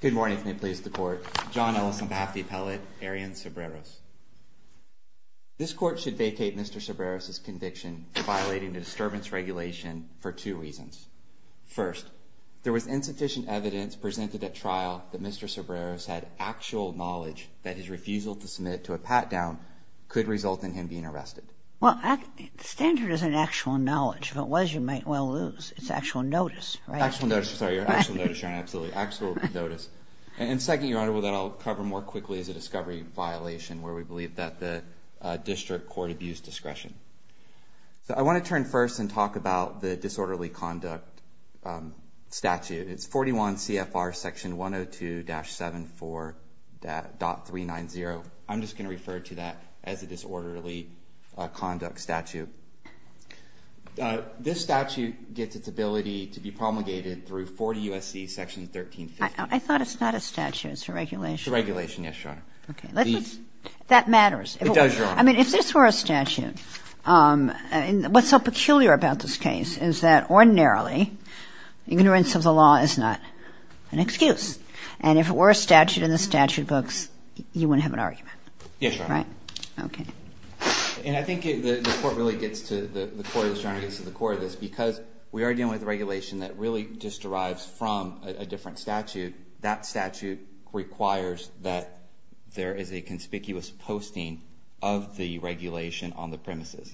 Good morning, please the court. John Ellis on behalf of the appellate, Arian Cebreros. This court should vacate Mr. Cebreros' conviction for violating the disturbance regulation for two reasons. First, there was insufficient evidence presented at trial that Mr. Cebreros had actual knowledge that his refusal to submit to a pat-down could result in him being arrested. Well, the standard isn't actual knowledge. If it was, you might well lose. It's actual notice. Actual notice, sorry. Actual notice, absolutely. Actual notice. And second, Your Honor, that I'll cover more quickly as a discovery violation where we believe that the district court abused discretion. I want to turn first and talk about the disorderly conduct statute. It's 41 CFR section 102-74.390. I'm just going to refer to that as a disorderly conduct statute. This statute gets its ability to be promulgated through 40 U.S.C. section 1350. I thought it's not a statute. It's a regulation. It's a regulation, yes, Your Honor. Okay. That matters. It does, Your Honor. I mean, if this were a statute, what's so peculiar about this case is that ordinarily ignorance of the law is not an excuse. And if it were a statute in the statute books, you wouldn't have an argument. Yes, Your Honor. Right? Okay. And I think the court really gets to the core of this, Your Honor, gets to the core of this, because we are dealing with a regulation that really just derives from a different statute. That statute requires that there is a conspicuous posting of the regulation on the premises.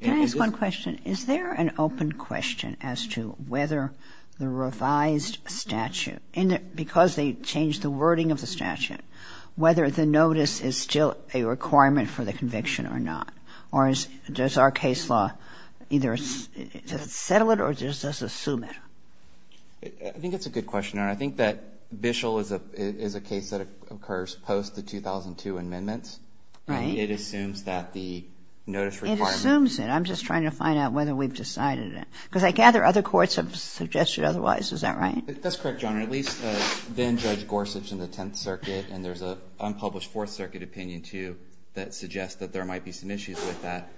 Can I ask one question? Is there an open question as to whether the revised statute, because they changed the wording of the statute, whether the notice is still a requirement for the conviction or not? Or does our case law either settle it or does it assume it? I think that's a good question, Your Honor. I think that Bishel is a case that occurs post the 2002 amendments. Right. And it assumes that the notice requirement. It assumes it. I'm just trying to find out whether we've decided it. Because I gather other courts have suggested otherwise. Is that right? That's correct, Your Honor. At least then-Judge Gorsuch in the Tenth Circuit, and there's an unpublished Fourth Circuit opinion, too, that suggests that there might be some issues with that.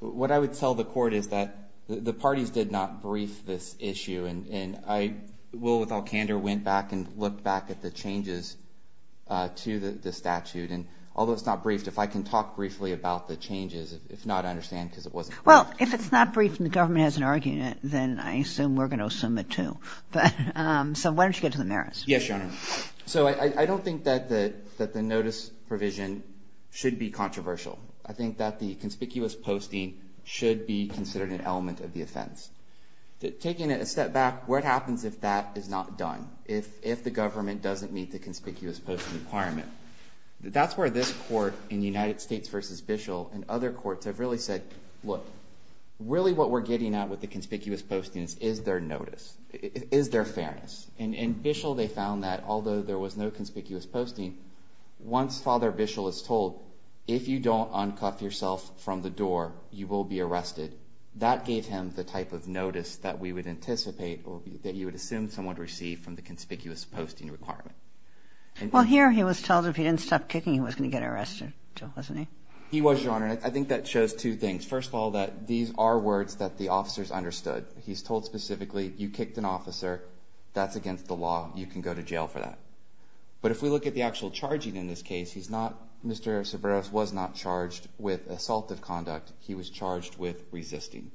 What I would tell the Court is that the parties did not brief this issue. And I, Will, with all candor, went back and looked back at the changes to the statute. And although it's not briefed, if I can talk briefly about the changes. If not, I understand, because it wasn't briefed. Well, if it's not briefed and the government hasn't argued it, then I assume we're going to assume it, too. So why don't you get to the merits? Yes, Your Honor. So I don't think that the notice provision should be controversial. I think that the conspicuous posting should be considered an element of the offense. Taking a step back, what happens if that is not done, if the government doesn't meet the conspicuous posting requirement? That's where this Court in United States v. Bishel and other courts have really said, look, really what we're getting at with the conspicuous postings is their notice, is their fairness. And in Bishel, they found that although there was no conspicuous posting, once Father Bishel is told, if you don't uncuff yourself from the door, you will be arrested, that gave him the type of notice that we would anticipate or that you would assume someone would receive from the conspicuous posting requirement. Well, here he was told if he didn't stop kicking, he was going to get arrested, wasn't he? He was, Your Honor. And I think that shows two things. First of all, that these are words that the officers understood. But he's told specifically, you kicked an officer, that's against the law, you can go to jail for that. But if we look at the actual charging in this case, he's not Mr. Cerberos was not charged with assaultive conduct. He was charged with resisting.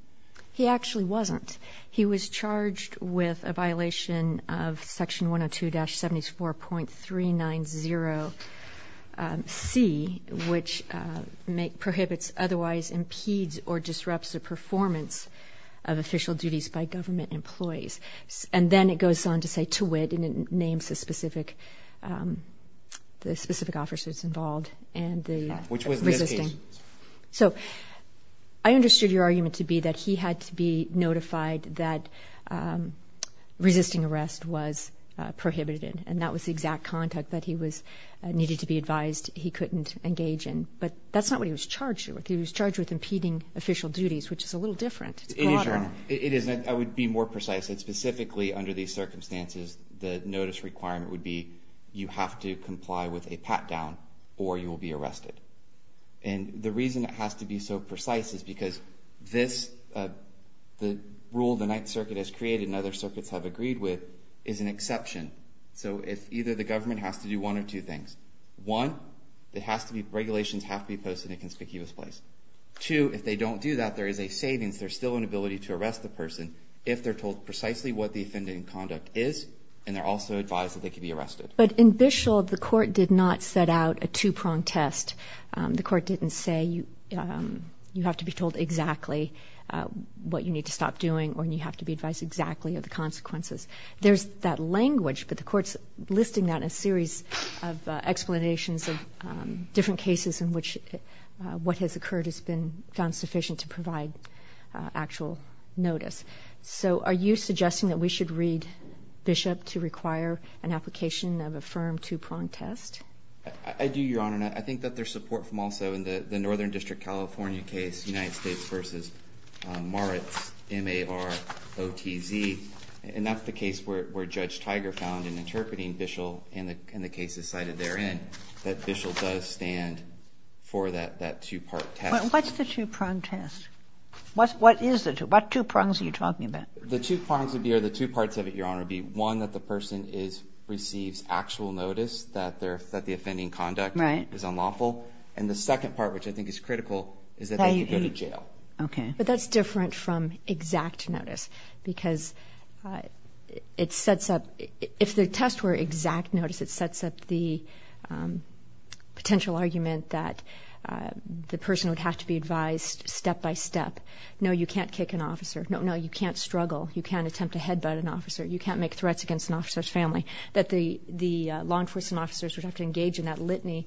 He actually wasn't. He was charged with a violation of Section 102-74.390C, which prohibits, otherwise impedes, or disrupts the performance of official duties by government employees. And then it goes on to say, to wit, and it names the specific officers involved and the resisting. Which was this case. So I understood your argument to be that he had to be notified that resisting arrest was prohibited. And that was the exact conduct that he needed to be advised he couldn't engage in. But that's not what he was charged with. He was charged with impeding official duties, which is a little different. It's broader. It is. I would be more precise. It's specifically under these circumstances, the notice requirement would be, you have to comply with a pat-down or you will be arrested. And the reason it has to be so precise is because this, the rule the Ninth Circuit has created and other circuits have agreed with, is an exception. So if either the government has to do one or two things. One, it has to be, regulations have to be posted in a conspicuous place. Two, if they don't do that, there is a savings. There's still an ability to arrest the person if they're told precisely what the offending conduct is and they're also advised that they can be arrested. But in Bishel, the court did not set out a two-pronged test. The court didn't say you have to be told exactly what you need to stop doing or you have to be advised exactly of the consequences. There's that language, but the court's listing that in a series of explanations of different cases in which what has occurred has been found sufficient to provide actual notice. So are you suggesting that we should read Bishop to require an application of a firm two-pronged test? I do, Your Honor, and I think that there's support from also in the Northern District California case, United States v. Moritz, M-A-R-O-T-Z, and that's the case where Judge Tiger found in interpreting Bishel and the cases cited therein that Bishel does stand for that two-part test. But what's the two-pronged test? What is the two? What two prongs are you talking about? The two prongs would be, or the two parts of it, Your Honor, would be, one, that the person is, receives actual notice that their, that the offending conduct is unlawful. Right. And the second part, which I think is critical, is that they could go to jail. I agree. Okay. But that's different from exact notice because it sets up, if the test were exact notice, it sets up the potential argument that the person would have to be advised step-by-step, no, you can't kick an officer, no, no, you can't struggle, you can't attempt to head-butt an officer, you can't make threats against an officer's family, that the law enforcement officers would have to engage in that litany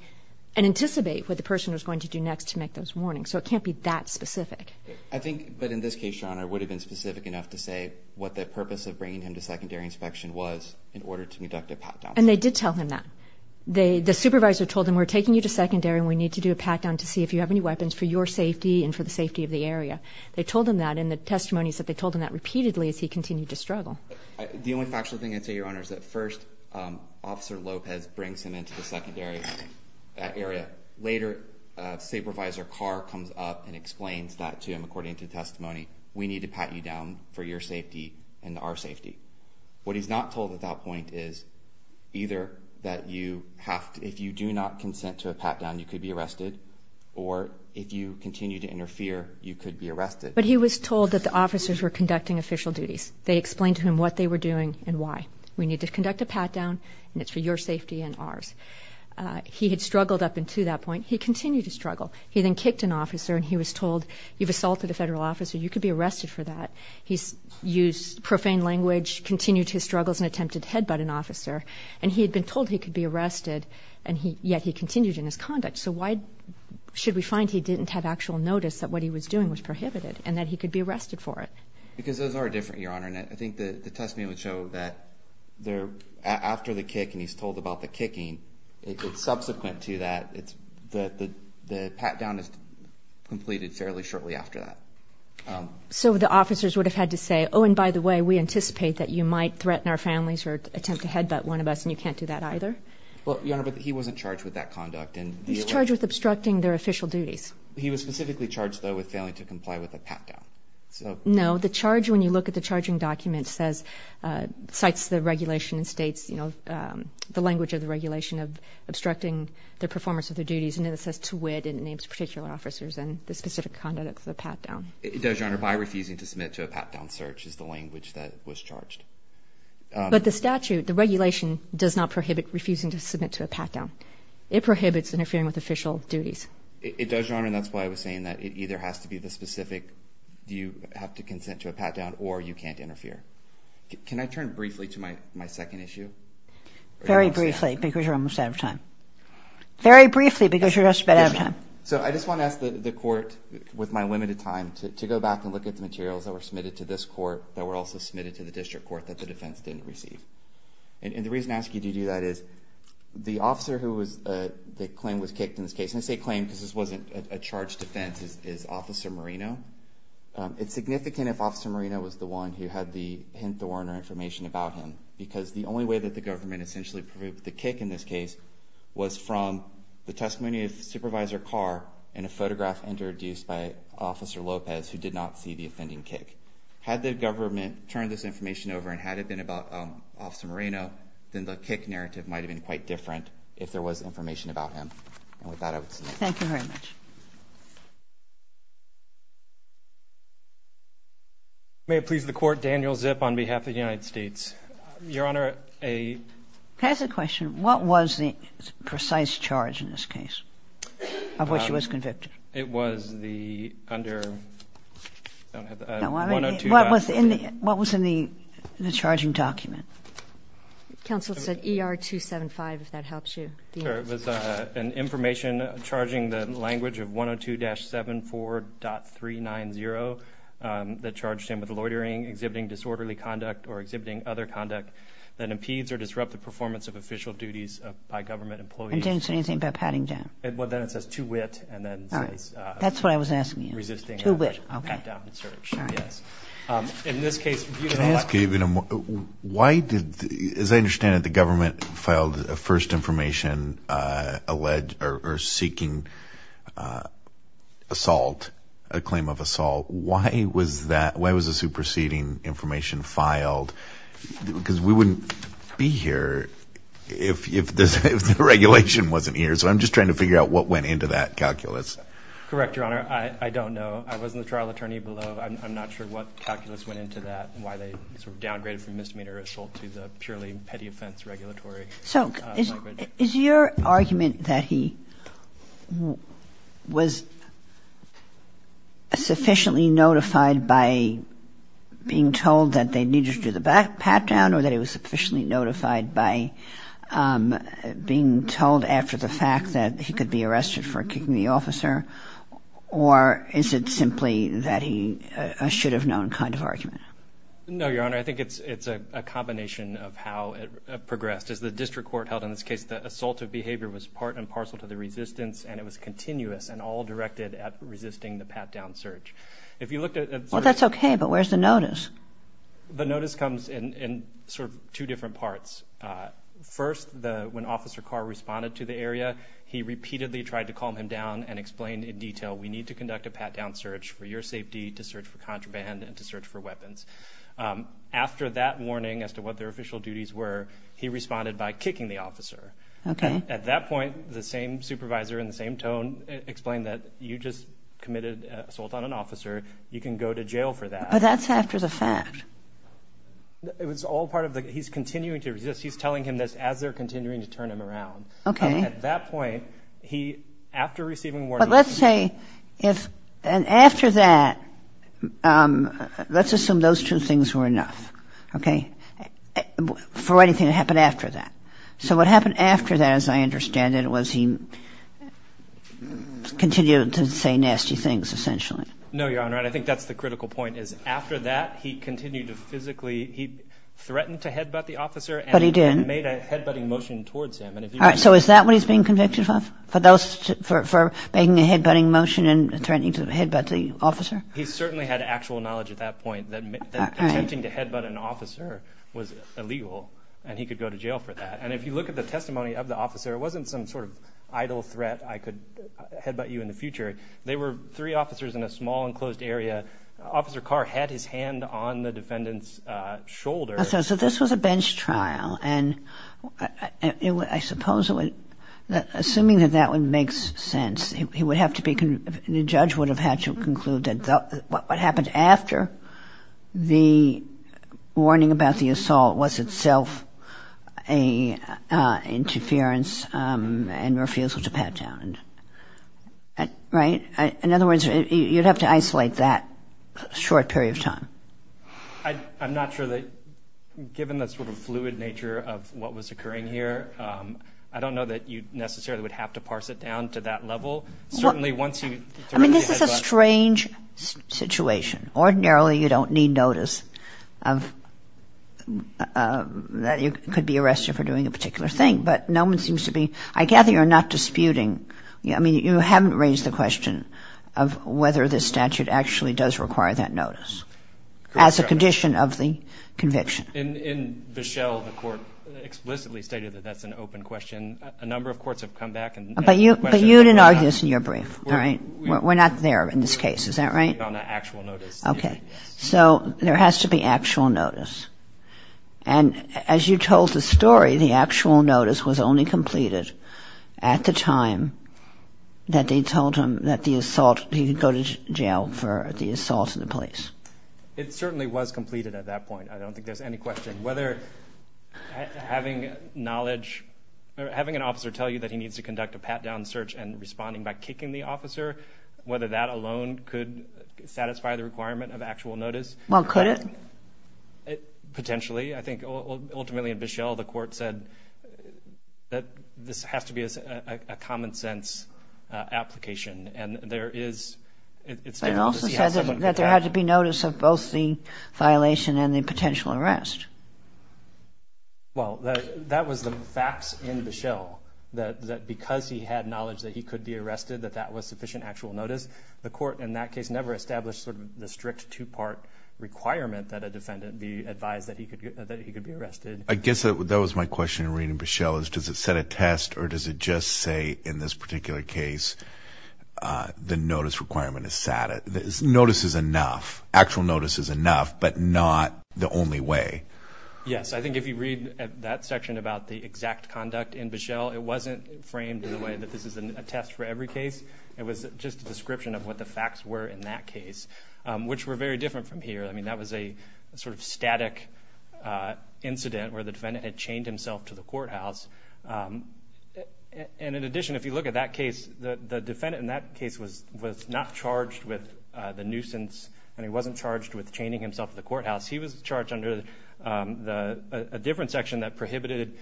and anticipate what the person was going to do next to make those warnings. So it can't be that specific. I think, but in this case, Your Honor, it would have been specific enough to say what the purpose of bringing him to secondary inspection was in order to conduct a pat-down. And they did tell him that. They, the supervisor told him, we're taking you to secondary and we need to do a pat-down to see if you have any weapons for your safety and for the safety of the area. They told him that, and the testimony is that they told him that repeatedly as he continued to struggle. The only factual thing I'd say, Your Honor, is that first, Officer Lopez brings him into the secondary area. Later, Supervisor Carr comes up and explains that to him, according to the testimony, we need to pat you down for your safety and our safety. What he's not told at that point is either that you have to, if you do not consent to a pat-down, you could be arrested, or if you continue to interfere, you could be arrested. But he was told that the officers were conducting official duties. They explained to him what they were doing and why. We need to conduct a pat-down, and it's for your safety and ours. He had struggled up until that point. He continued to struggle. He then kicked an officer, and he was told, you've assaulted a federal officer. You could be arrested for that. He used profane language, continued his struggles, and attempted to head-butt an officer. And he had been told he could be arrested, and yet he continued in his conduct. So why should we find he didn't have actual notice that what he was doing was prohibited and that he could be arrested for it? Because those are different, Your Honor, and I think the testimony would show that after the kick, and he's told about the kicking, it's subsequent to that. The pat-down is completed fairly shortly after that. So the officers would have had to say, oh, and by the way, we anticipate that you might threaten our families or attempt to head-butt one of us, and you can't do that either? Well, Your Honor, but he wasn't charged with that conduct. He's charged with obstructing their official duties. He was specifically charged, though, with failing to comply with a pat-down. No. The charge, when you look at the charging document, says, cites the regulation and states, you know, the language of the regulation of obstructing the performance of their duties, and then it says, to wit, and it names particular officers and the specific conduct of the pat-down. It does, Your Honor, by refusing to submit to a pat-down search is the language that was charged. But the statute, the regulation, does not prohibit refusing to submit to a pat-down. It prohibits interfering with official duties. It does, Your Honor, and that's why I was saying that it either has to be the specific do you have to consent to a pat-down, or you can't interfere. Can I turn briefly to my second issue? Very briefly, because you're almost out of time. Very briefly, because you're just about out of time. So I just want to ask the court, with my limited time, to go back and look at the materials that were submitted to this court that were also submitted to the district court that the defense didn't receive. And the reason I ask you to do that is the officer who the claim was kicked in this case, because this wasn't a charged offense, is Officer Marino. It's significant if Officer Marino was the one who had the hint or information about him, because the only way that the government essentially proved the kick in this case was from the testimony of Supervisor Carr and a photograph introduced by Officer Lopez, who did not see the offending kick. Had the government turned this information over and had it been about Officer Marino, then the kick narrative might have been quite different if there was information. Thank you very much. May it please the Court, Daniel Zip on behalf of the United States. Your Honor, a – Can I ask a question? What was the precise charge in this case of which he was convicted? It was the under – I don't have the – 102 – What was in the charging document? Counsel said ER 275, if that helps you. Sure. It was an information charging the language of 102-74.390 that charged him with loitering, exhibiting disorderly conduct, or exhibiting other conduct that impedes or disrupts the performance of official duties by government employees. And didn't say anything about patting down? Well, then it says, to wit, and then it says – All right. That's what I was asking you. To wit. Okay. Pat down and search. Yes. In this case – Why did – as I understand it, the government filed a first information alleged or seeking assault, a claim of assault. Why was that – why was the superseding information filed? Because we wouldn't be here if the regulation wasn't here. So I'm just trying to figure out what went into that calculus. Correct, Your Honor. I don't know. I wasn't the trial attorney below. I'm not sure what calculus went into that and why they sort of downgraded from misdemeanor assault to the purely petty offense regulatory language. So is your argument that he was sufficiently notified by being told that they needed to do the pat down or that he was sufficiently notified by being told after the fact that he could be arrested for kicking the officer? Or is it simply that he – a should have known kind of argument? No, Your Honor. I think it's a combination of how it progressed. As the district court held in this case, the assaultive behavior was part and parcel to the resistance and it was continuous and all directed at resisting the pat down search. If you looked at – Well, that's okay, but where's the notice? The notice comes in sort of two different parts. First, when Officer Carr responded to the area, he repeatedly tried to calm him down and explained in detail, we need to conduct a pat down search for your safety, to search for contraband, and to search for weapons. After that warning as to what their official duties were, he responded by kicking the officer. At that point, the same supervisor in the same tone explained that you just committed assault on an officer. You can go to jail for that. But that's after the fact. It was all part of the – he's continuing to resist. He's telling him this as they're continuing to turn him around. Okay. At that point, he, after receiving warning – But let's say if – and after that, let's assume those two things were enough. Okay? For anything to happen after that. So what happened after that, as I understand it, was he continued to say nasty things, essentially. No, Your Honor, and I think that's the critical point, is after that, he continued to physically – he threatened to headbutt the officer. But he didn't. He made a headbutting motion towards him. So is that what he's being convicted of, for making a headbutting motion and threatening to headbutt the officer? He certainly had actual knowledge at that point that attempting to headbutt an officer was illegal, and he could go to jail for that. And if you look at the testimony of the officer, it wasn't some sort of idle threat, I could headbutt you in the future. They were three officers in a small, enclosed area. Officer Carr had his hand on the defendant's shoulder. So this was a bench trial, and I suppose it would – assuming that that would make sense, he would have to be – the judge would have had to conclude that what happened after the warning about the assault was itself an interference and refusal to pat down. Right? In other words, you'd have to isolate that short period of time. I'm not sure that – given the sort of fluid nature of what was occurring here, I don't know that you necessarily would have to parse it down to that level. Certainly, once you – I mean, this is a strange situation. Ordinarily, you don't need notice of – that you could be arrested for doing a particular thing, but no one seems to be – I gather you're not disputing – I mean, you haven't raised the question of whether this statute actually does require that notice as a condition of the conviction. In Bichelle, the court explicitly stated that that's an open question. A number of courts have come back and – But you didn't argue this in your brief, right? We're not there in this case, is that right? On an actual notice. Okay. So there has to be actual notice. And as you told the story, the actual notice was only completed at the time that they told him that the assault – he could go to jail for the assault of the police. It certainly was completed at that point. I don't think there's any question. Whether having knowledge – having an officer tell you that he needs to conduct a pat-down search and responding by kicking the officer, whether that alone could satisfy the requirement of actual notice. Well, could it? Potentially. I think ultimately in Bichelle, the court said that this has to be a common-sense application. And there is – it's difficult to see how someone could – But it also says that there had to be notice of both the violation and the potential arrest. Well, that was the facts in Bichelle, that because he had knowledge that he could be arrested, that that was sufficient actual notice. The court in that case never established sort of the strict two-part requirement that a defendant be advised that he could be arrested. I guess that was my question in reading Bichelle, is does it set a test or does it just say in this particular case the notice requirement is set? Notice is enough. Actual notice is enough, but not the only way. Yes. I think if you read that section about the exact conduct in Bichelle, it wasn't framed in a way that this is a test for every case. It was just a description of what the facts were in that case, which were very different from here. I mean, that was a sort of static incident where the defendant had chained himself to the courthouse. In addition, if you look at that case, the defendant in that case was not charged with the nuisance and he wasn't charged with chaining himself to the courthouse. He was charged under a different section that prohibited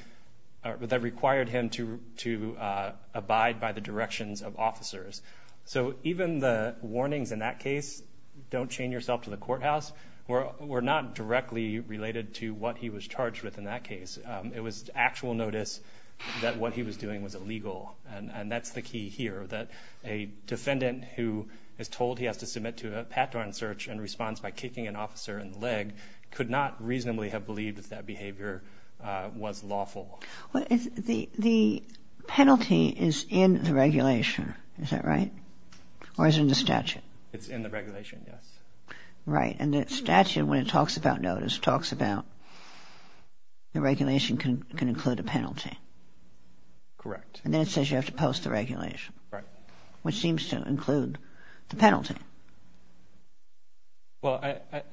or that required him to abide by the directions of officers. So even the warnings in that case, don't chain yourself to the courthouse, were not directly related to what he was charged with in that case. It was actual notice that what he was doing was illegal, and that's the key here, that a defendant who is told he has to submit to a pattern search in response by kicking an officer in the leg could not reasonably have believed that that behavior was lawful. The penalty is in the regulation, is that right? Or is it in the statute? It's in the regulation, yes. Right. And the statute, when it talks about notice, talks about the regulation can include a penalty. Correct. And then it says you have to post the regulation. Right. Which seems to include the penalty. Well,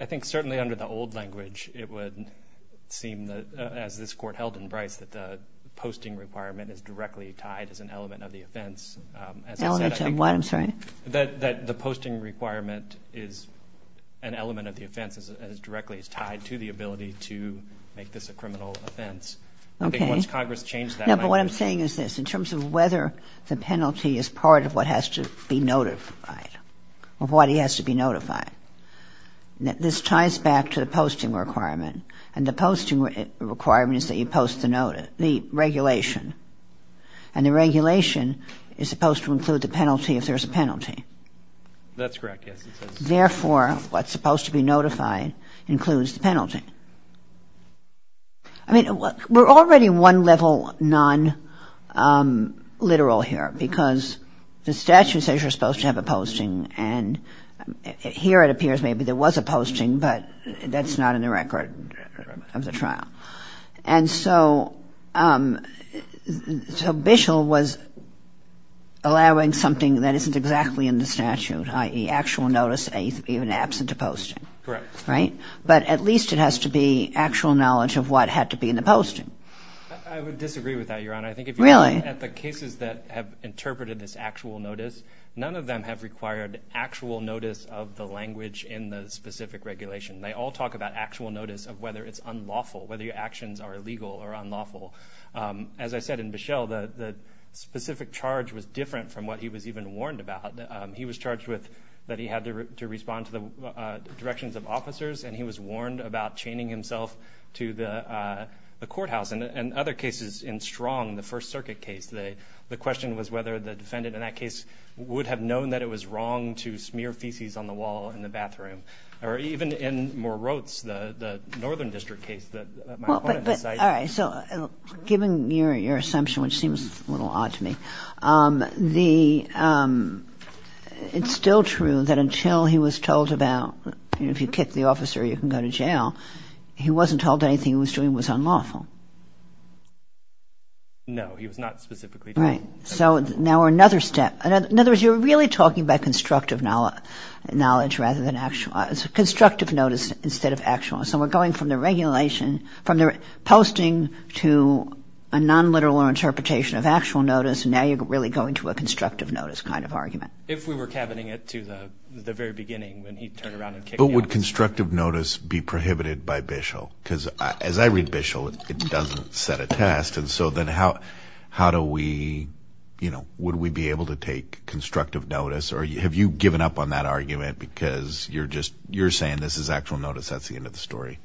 I think certainly under the old language, it would seem that, as this Court held in Bryce, that the posting requirement is directly tied as an element of the offense. Element of what, I'm sorry? That the posting requirement is an element of the offense and is directly tied to the ability to make this a criminal offense. Okay. I think once Congress changed that language. No, but what I'm saying is this. In terms of whether the penalty is part of what has to be notified, of what he has to be notified, this ties back to the posting requirement, and the posting requirement is that you post the regulation. And the regulation is supposed to include the penalty if there's a penalty. That's correct, yes. Therefore, what's supposed to be notified includes the penalty. I mean, we're already one level non-literal here because the statute says you're supposed to have a posting, and here it appears maybe there was a posting, but that's not in the record of the trial. And so Bishel was allowing something that isn't exactly in the statute, i.e. actual notice even absent a posting. Correct. Right? But at least it has to be actual knowledge of what had to be in the posting. I would disagree with that, Your Honor. Really? I think if you look at the cases that have interpreted this actual notice, none of them have required actual notice of the language in the specific regulation. They all talk about actual notice of whether it's unlawful, whether your actions are illegal or unlawful. As I said in Bishel, the specific charge was different from what he was even warned about. He was charged that he had to respond to the directions of officers, and he was warned about chaining himself to the courthouse. In other cases, in Strong, the First Circuit case, the question was whether the defendant in that case would have known that it was wrong to smear feces on the wall in the bathroom. Or even in Moroz, the Northern District case that my opponent decided. All right. So given your assumption, which seems a little odd to me, it's still true that until he was told about if you kick the officer, you can go to jail, he wasn't told anything he was doing was unlawful. No, he was not specifically told. Right. So now another step. In other words, you're really talking about constructive knowledge rather than actual. Constructive notice instead of actual. So we're going from the regulation, from the posting to a nonliteral interpretation of actual notice, and now you're really going to a constructive notice kind of argument. If we were cabining it to the very beginning when he turned around and kicked the officer. But would constructive notice be prohibited by Bishel? Because as I read Bishel, it doesn't set a test. So then how do we, you know, would we be able to take constructive notice or have you given up on that argument because you're saying this is actual notice, that's the end of the story?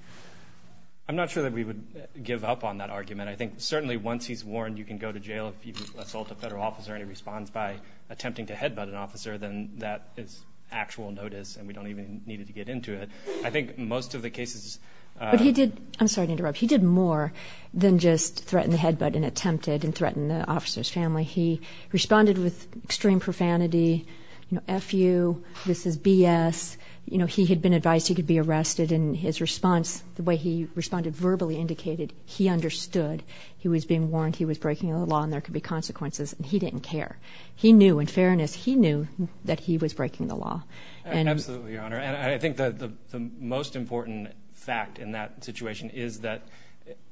I'm not sure that we would give up on that argument. I think certainly once he's warned you can go to jail if you assault a federal officer and he responds by attempting to headbutt an officer, then that is actual notice and we don't even need to get into it. I think most of the cases. I'm sorry to interrupt. He did more than just threaten the headbutt and attempted and threatened the officer's family. He responded with extreme profanity, you know, F.U., this is B.S. You know, he had been advised he could be arrested, and his response, the way he responded verbally indicated he understood. He was being warned he was breaking the law and there could be consequences, and he didn't care. He knew, in fairness, he knew that he was breaking the law. Absolutely, Your Honor. I think the most important fact in that situation is that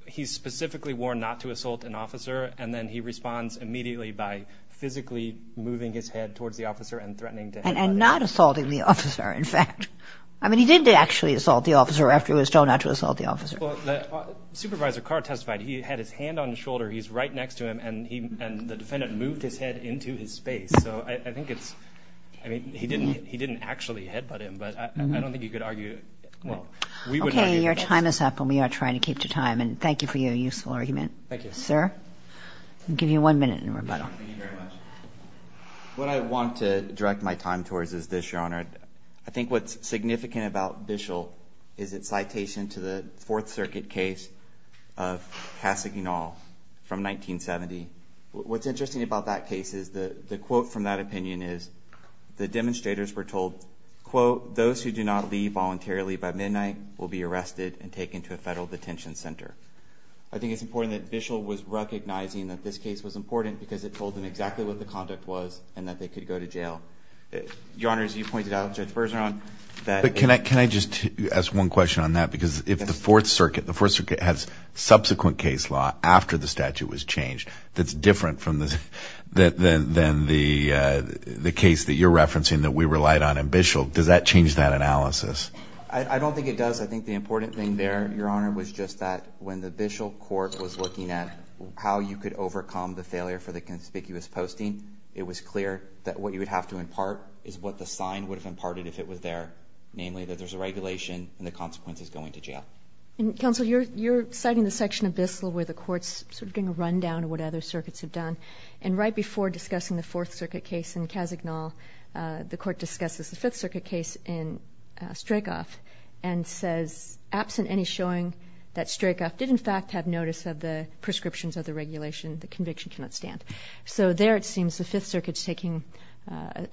he's specifically warned not to assault an officer and then he responds immediately by physically moving his head towards the officer and threatening to headbutt him. And not assaulting the officer, in fact. I mean, he did actually assault the officer after he was told not to assault the officer. Supervisor Carr testified he had his hand on his shoulder, he's right next to him, and the defendant moved his head into his space. So I think it's, I mean, he didn't actually headbutt him, but I don't think you could argue, well, we would argue. Okay, your time is up, and we are trying to keep to time. And thank you for your useful argument. Thank you. Sir? I'll give you one minute in rebuttal. Thank you very much. What I want to direct my time towards is this, Your Honor. I think what's significant about Bishel is its citation to the Fourth Circuit case of Kassiginall from 1970. What's interesting about that case is the quote from that opinion is, the demonstrators were told, quote, those who do not leave voluntarily by midnight will be arrested and taken to a federal detention center. I think it's important that Bishel was recognizing that this case was important because it told them exactly what the conduct was and that they could go to jail. Your Honor, as you pointed out, Judge Bergeron, that- But can I just ask one question on that? Because if the Fourth Circuit, the Fourth Circuit has subsequent case law after the statute was changed, that's different from the case that you're referencing that we relied on in Bishel. Does that change that analysis? I don't think it does. I think the important thing there, Your Honor, was just that when the Bishel court was looking at how you could overcome the failure for the conspicuous posting, it was clear that what you would have to impart is what the sign would have imparted if it was there, namely that there's a regulation and the consequence is going to jail. Counsel, you're citing the section of Bishel where the court's sort of doing a rundown of what other circuits have done. And right before discussing the Fourth Circuit case in Kazagnol, the court discusses the Fifth Circuit case in Strykov and says, absent any showing that Strykov did in fact have notice of the prescriptions of the regulation, the conviction cannot stand. So there it seems the Fifth Circuit's taking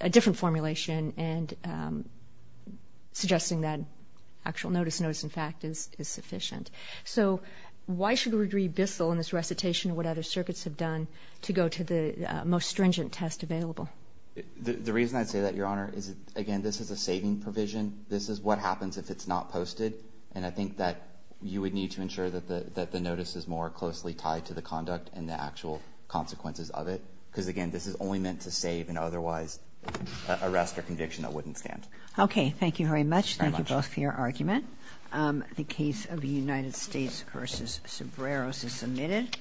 a different formulation and suggesting that actual notice, notice in fact, is sufficient. So why should we agree Bishel in this recitation what other circuits have done to go to the most stringent test available? The reason I say that, Your Honor, is, again, this is a saving provision. This is what happens if it's not posted. And I think that you would need to ensure that the notice is more closely tied to the conduct and the actual consequences of it because, again, this is only meant to save an otherwise arrest or conviction that wouldn't stand. Okay. Thank you very much. Thank you both for your argument. The case of the United States v. Sobreros is submitted.